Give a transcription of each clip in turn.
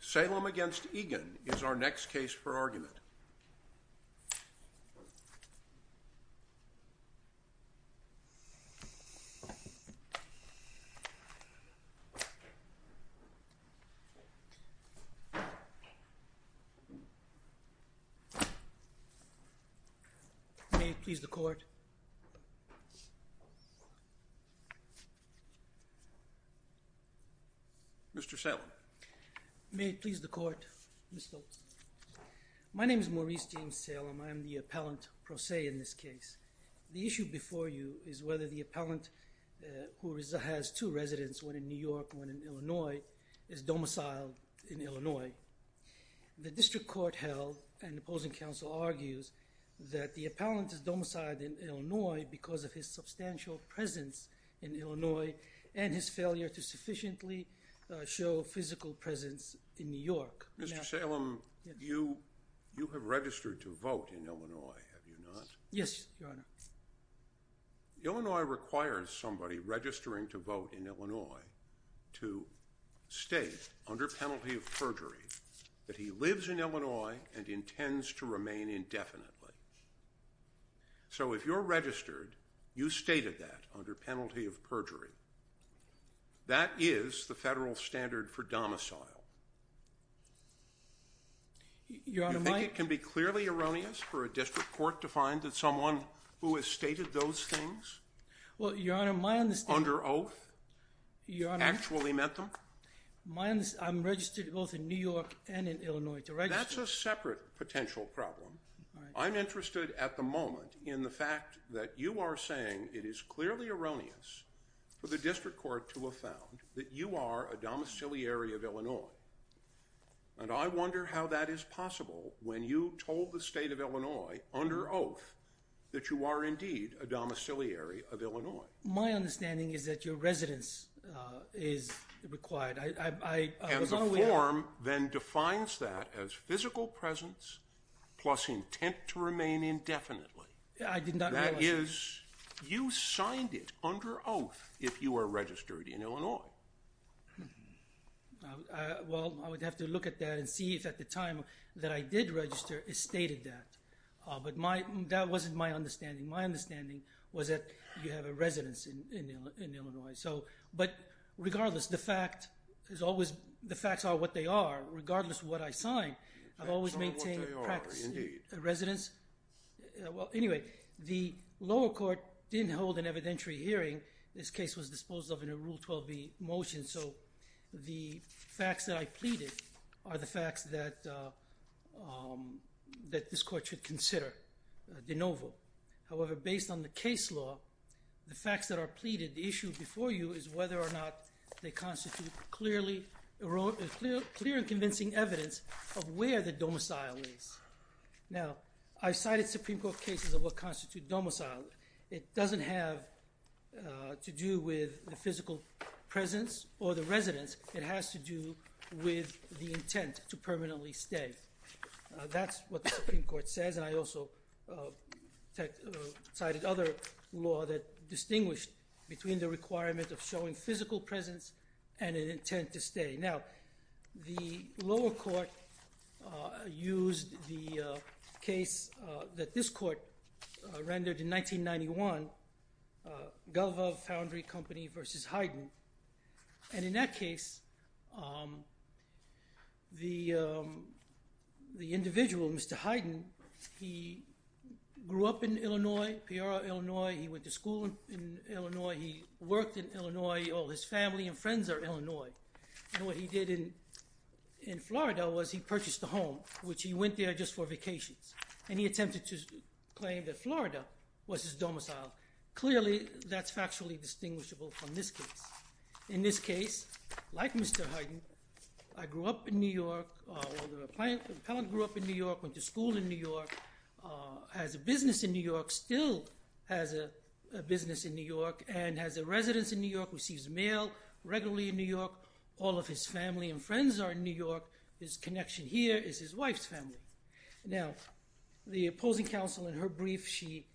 Salem v. Egan is our next case for argument. May it please the Court. My name is Maurice James Salem. I am the appellant pro se in this case. The issue before you is whether the appellant who has two residents, one in New York and one in Illinois, is domiciled in Illinois. The district court held and opposing counsel argues that the appellant is domiciled in Illinois because of his substantial presence in Illinois and his failure to sufficiently show physical presence in New York. Mr. Salem, you have registered to vote in Illinois, have you not? Yes, Your Honor. Illinois requires somebody registering to vote in Illinois to state under penalty of perjury that he lives in Illinois and intends to remain indefinitely. So if you're registered, you stated that under penalty of perjury. That is the federal standard for domicile. Your Honor, you think it can be clearly erroneous for a district court to find that someone who has stated those things under oath actually meant them? I'm registered to vote in New York and in Illinois to register. That's a separate potential problem. I'm interested at the moment in the fact that you are saying it is clearly erroneous for the district court to have found that you are a domiciliary of Illinois. And I wonder how that is possible when you told the state of Illinois under oath that you are indeed a domiciliary of Illinois. My understanding is that your residence is required. And the federal presence plus intent to remain indefinitely. I did not realize that. That is, you signed it under oath if you are registered in Illinois. Well, I would have to look at that and see if at the time that I did register, it stated that. But that wasn't my understanding. My understanding was that you have a residence in Illinois. But regardless, the facts are what they are. Regardless of what I signed, I've always maintained residence. Well, anyway, the lower court didn't hold an evidentiary hearing. This case was disposed of in a Rule 12b motion. So the facts that I pleaded are the facts that that this court should consider de novo. However, based on the case law, the facts that are pleaded, the issue before you is whether or not they constitute a clear and convincing evidence of where the domicile is. Now, I've cited Supreme Court cases of what constitute domicile. It doesn't have to do with the physical presence or the residence. It has to do with the intent to permanently stay. That's what the Supreme Court says. And I also cited other law that distinguished between the requirement of showing physical presence and an intent to stay. Now, the lower court used the case that this court rendered in 1991, Galva Foundry Company v. Hyden. And in that case, the individual, Mr. Hyden, he grew up in Illinois, Pierre, Illinois. He went to school in Illinois. He worked in Illinois. All his family and friends are Illinois. And what he did in Florida was he purchased a home, which he went there just for vacations. And he attempted to claim that Florida was his domicile. Clearly, that's factually distinguishable from this case. In this case, like Mr. Hyden, I grew up in New York, or the appellant grew up in New York, went to school in New York, has a business in New York, still has a business in New York, and has a residence in New York, receives mail regularly in New York. All of his family and friends are in New York. His connection here is his wife's family. Now, the opposing counsel in her brief, she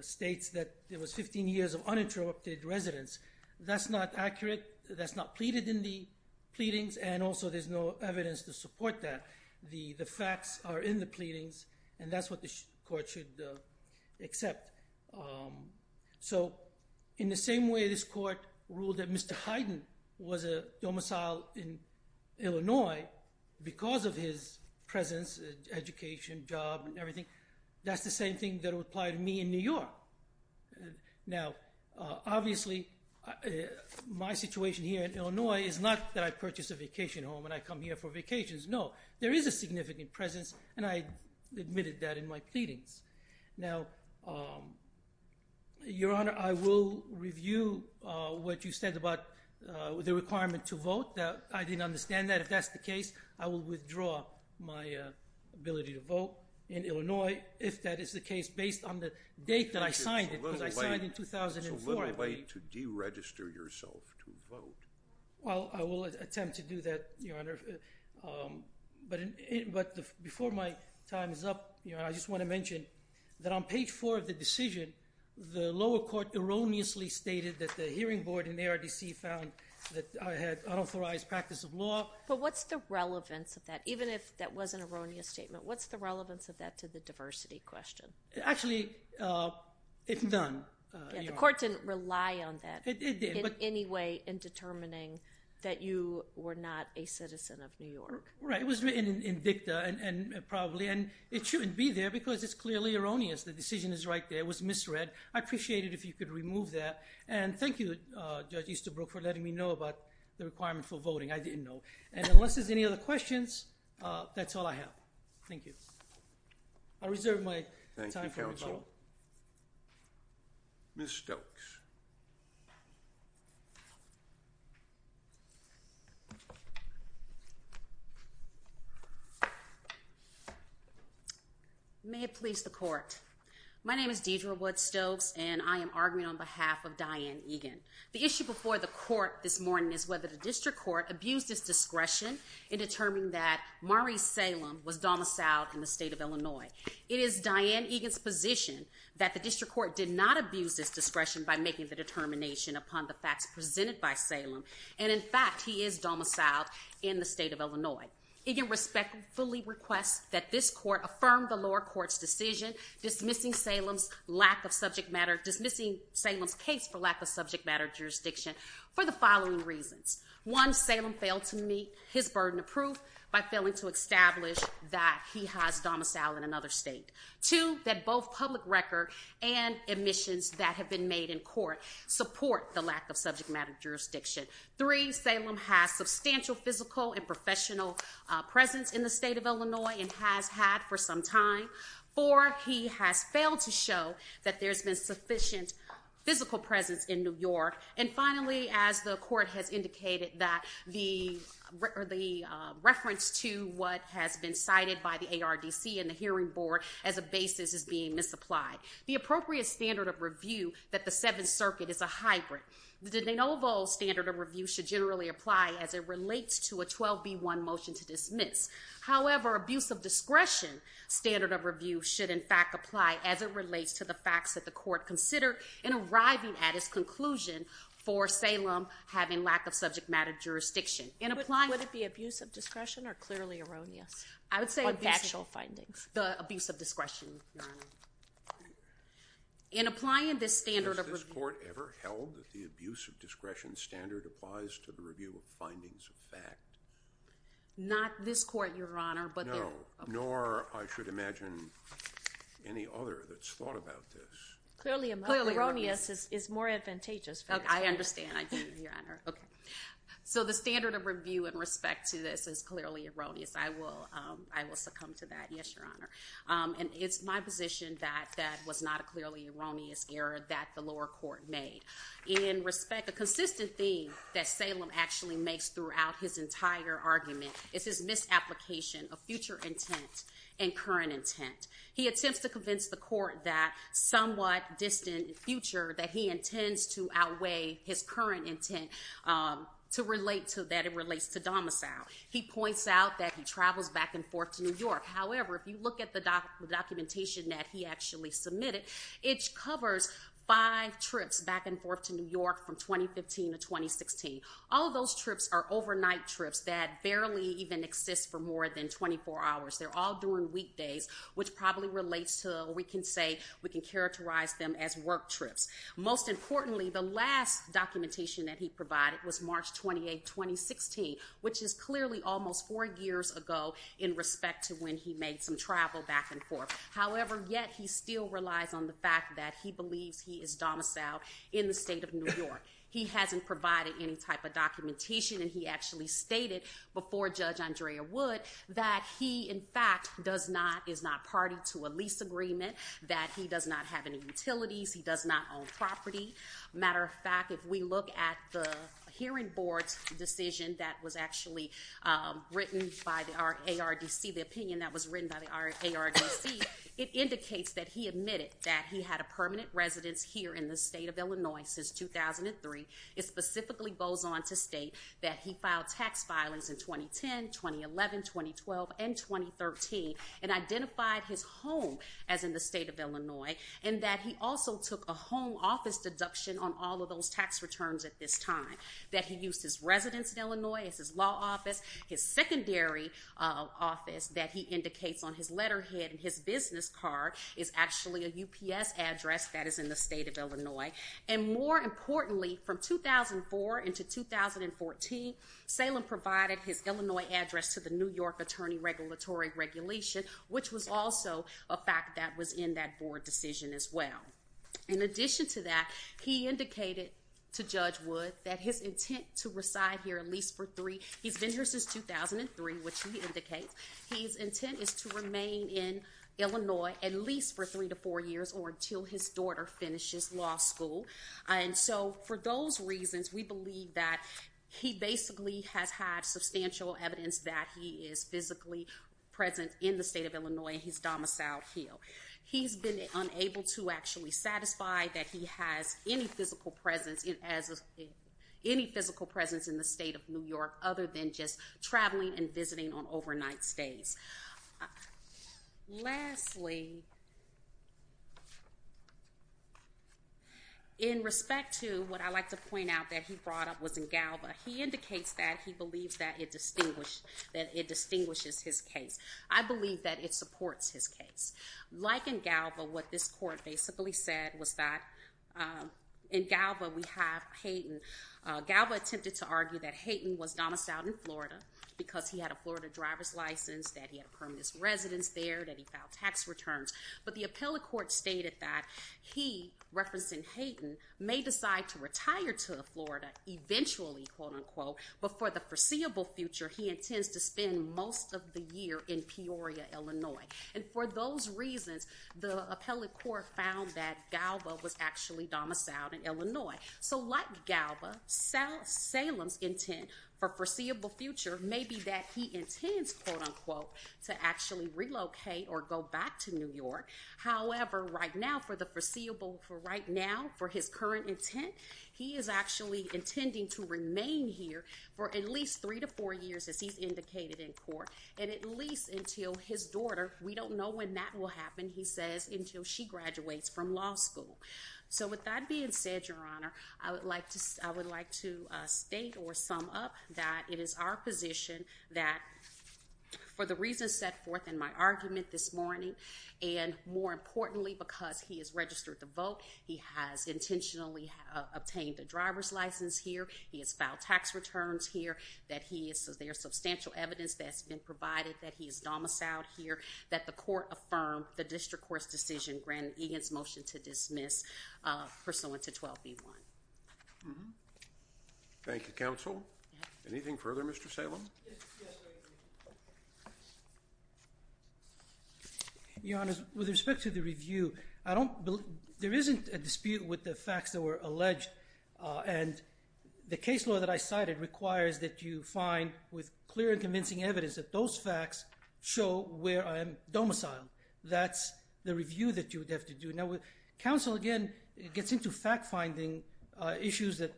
states that there was 15 years of uninterrupted residence. That's not accurate. That's not pleaded in the pleadings. And also, there's no evidence to support that. The facts are in the pleadings, and that's what the court should accept. So, in the same way this court ruled that Mr. Hyden was a domicile in Illinois because of his presence, education, job, and everything, that's the same thing that would apply to me in New York. Now, obviously, my situation here in Illinois is not that I purchased a residence because of my education. No, there is a significant presence, and I admitted that in my pleadings. Now, Your Honor, I will review what you said about the requirement to vote. I didn't understand that. If that's the case, I will withdraw my ability to vote in Illinois, if that is the case, based on the date that I signed it, because I signed in 2004. It's a little late to deregister yourself to vote. Well, I will attempt to do that, Your Honor. But before my time is up, Your Honor, I just want to mention that on page 4 of the decision, the lower court erroneously stated that the hearing board in ARDC found that I had unauthorized practice of law. But what's the relevance of that? Even if that was an erroneous statement, what's the relevance of that to the diversity question? Actually, it's none. The court didn't rely on that in any way in determining that you were not a citizen of New York. Right. It was written in dicta, and probably, and it shouldn't be there because it's clearly erroneous. The decision is right there. It was misread. I'd appreciate it if you could remove that. And thank you, Judge Easterbrook, for letting me know about the requirement for voting. I didn't know. And unless there's any other questions, that's all I have. Thank you. I'll reserve my time for rebuttal. Thank you, counsel. Ms. Stokes. May it please the court. My name is Deidre Wood Stokes, and I am arguing on behalf of Diane Egan. The issue before the court this morning is whether the district court abused its discretion in determining that Maurice Salem was domiciled in the state of Illinois. It is Diane Egan's position that the district court did not abuse its discretion by making the determination upon the facts presented by Salem. And in fact, he is domiciled in the state of Illinois. Egan respectfully requests that this court affirm the lower court's decision dismissing Salem's lack of subject matter, dismissing Salem's case for lack of subject matter jurisdiction for the following reasons. One, Salem failed to meet his burden of proof by failing to establish that he has domiciled in another state. Two, that both public record and admissions that have been made in court support the lack of subject matter jurisdiction. Three, Salem has substantial physical and professional presence in the state of Illinois and has had for some time. Four, he has failed to show that there's been sufficient physical presence in New York. And finally, as the court has indicated, that the reference to what has been cited by the ARDC and the hearing board as a basis is being misapplied. The appropriate standard of review that the Seventh Circuit is a hybrid. The de novo standard of review should generally apply as it relates to a 12B1 motion to dismiss. However, abuse of discretion standard of review should in fact apply as it relates to the facts that the court considered in arriving at its conclusion for Salem having lack of subject matter jurisdiction. In applying- Would it be abuse of discretion or clearly erroneous? I would say- On factual findings. The abuse of discretion. In applying this standard of review- Has this court ever held that the abuse of discretion standard applies to the review of findings of fact? Not this court, Your Honor, but the- Clearly erroneous is more advantageous. I understand. I do, Your Honor. So the standard of review in respect to this is clearly erroneous. I will succumb to that. Yes, Your Honor. And it's my position that that was not a clearly erroneous error that the lower court made. In respect, a consistent theme that Salem actually makes throughout his entire argument is his misapplication of future intent and that distant future that he intends to outweigh his current intent to relate to that it relates to domicile. He points out that he travels back and forth to New York. However, if you look at the documentation that he actually submitted, it covers five trips back and forth to New York from 2015 to 2016. All those trips are overnight trips that barely even exist for more than 24 hours. They're all during weekdays, which probably relates to, we can characterize them as work trips. Most importantly, the last documentation that he provided was March 28, 2016, which is clearly almost four years ago in respect to when he made some travel back and forth. However, yet he still relies on the fact that he believes he is domiciled in the state of New York. He hasn't provided any type of documentation, and he actually stated before Judge Andrea Wood that he, in fact, does not, is not party to a lease agreement, that he does not have any utilities, he does not own property. Matter of fact, if we look at the hearing board's decision that was actually written by the ARDC, the opinion that was written by the ARDC, it indicates that he admitted that he had a permanent residence here in the state of Illinois since 2003. It specifically goes on to state that he filed tax filings in 2010, 2011, 2012, and 2013, and identified his home as in the state of Illinois, and that he also took a home office deduction on all of those tax returns at this time, that he used his residence in Illinois as his law office, his secondary office that he indicates on his letterhead and his business card is actually a UPS address that is in the state of Illinois. And more importantly, from 2004 into 2014, Salem provided his Illinois address to the New York Attorney Regulatory Regulation, which was also a fact that was in that board decision as well. In addition to that, he indicated to Judge Wood that his intent to reside here at least for three, he's been here since 2003, which he indicates, he's intent is to remain in Illinois at least for three to four years or until his daughter finishes law school. And so for those reasons, we believe that he basically has had substantial evidence that he is physically present in the state of Illinois and he's domiciled here. He's been unable to actually satisfy that he has any physical presence in the state of New York other than just traveling and visiting on overnight stays. Lastly, in respect to what I like to point out that he brought up was in Galva, he indicates that he believes that it distinguishes his case. I believe that it supports his case. Like in Galva, what this court basically said was that in Galva, we have Peyton. Galva attempted to argue that Peyton was domiciled in Florida because he had a Florida driver's license, that he had a permanent residence there, that he filed tax returns. But the appellate court stated that he, referencing Peyton, may decide to retire to Florida eventually, quote unquote, but for the foreseeable future, he intends to spend most of the year in Peoria, Illinois. And for those reasons, the appellate court found that Galva was actually domiciled in Florida. So the appellant's intent for foreseeable future may be that he intends, quote unquote, to actually relocate or go back to New York. However, right now, for the foreseeable, for right now, for his current intent, he is actually intending to remain here for at least three to four years, as he's indicated in court, and at least until his daughter, we don't know when that will happen, he says, until she graduates from law school. So with that being said, Your Honor, I would like to state or sum up that it is our position that for the reasons set forth in my argument this morning, and more importantly, because he has registered to vote, he has intentionally obtained a driver's license here, he has filed tax returns here, that he is, there is substantial evidence that has been provided that he is domiciled here, that the court affirmed the district court's decision, granted Egan's motion to dismiss pursuant to 12B1. Thank you, counsel. Anything further, Mr. Salem? Your Honor, with respect to the review, I don't, there isn't a dispute with the facts that were alleged, and the case law that I cited requires that you find, with clear and convincing evidence, that those facts show where I am domiciled. That's the review that you would have to do. Now, counsel, again, gets into fact-finding issues that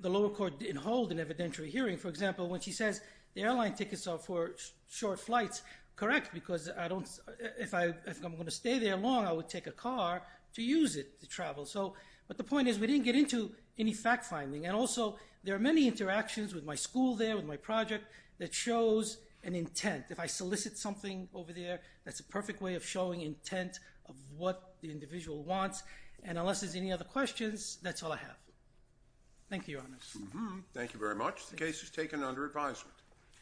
the lower court didn't hold in evidentiary hearing. For example, when she says the airline tickets are for short flights, correct, because I don't, if I'm going to stay there long, I would take a car to use it to travel. So, but the point is, we didn't get into any fact-finding. And also, there are many interactions with my school there, with my project, that shows an intent. If I solicit something over there, that's a perfect way of showing intent of what the individual wants, and unless there's any other questions, that's all I have. Thank you, Your Honor. Thank you very much. The case is taken under advisement.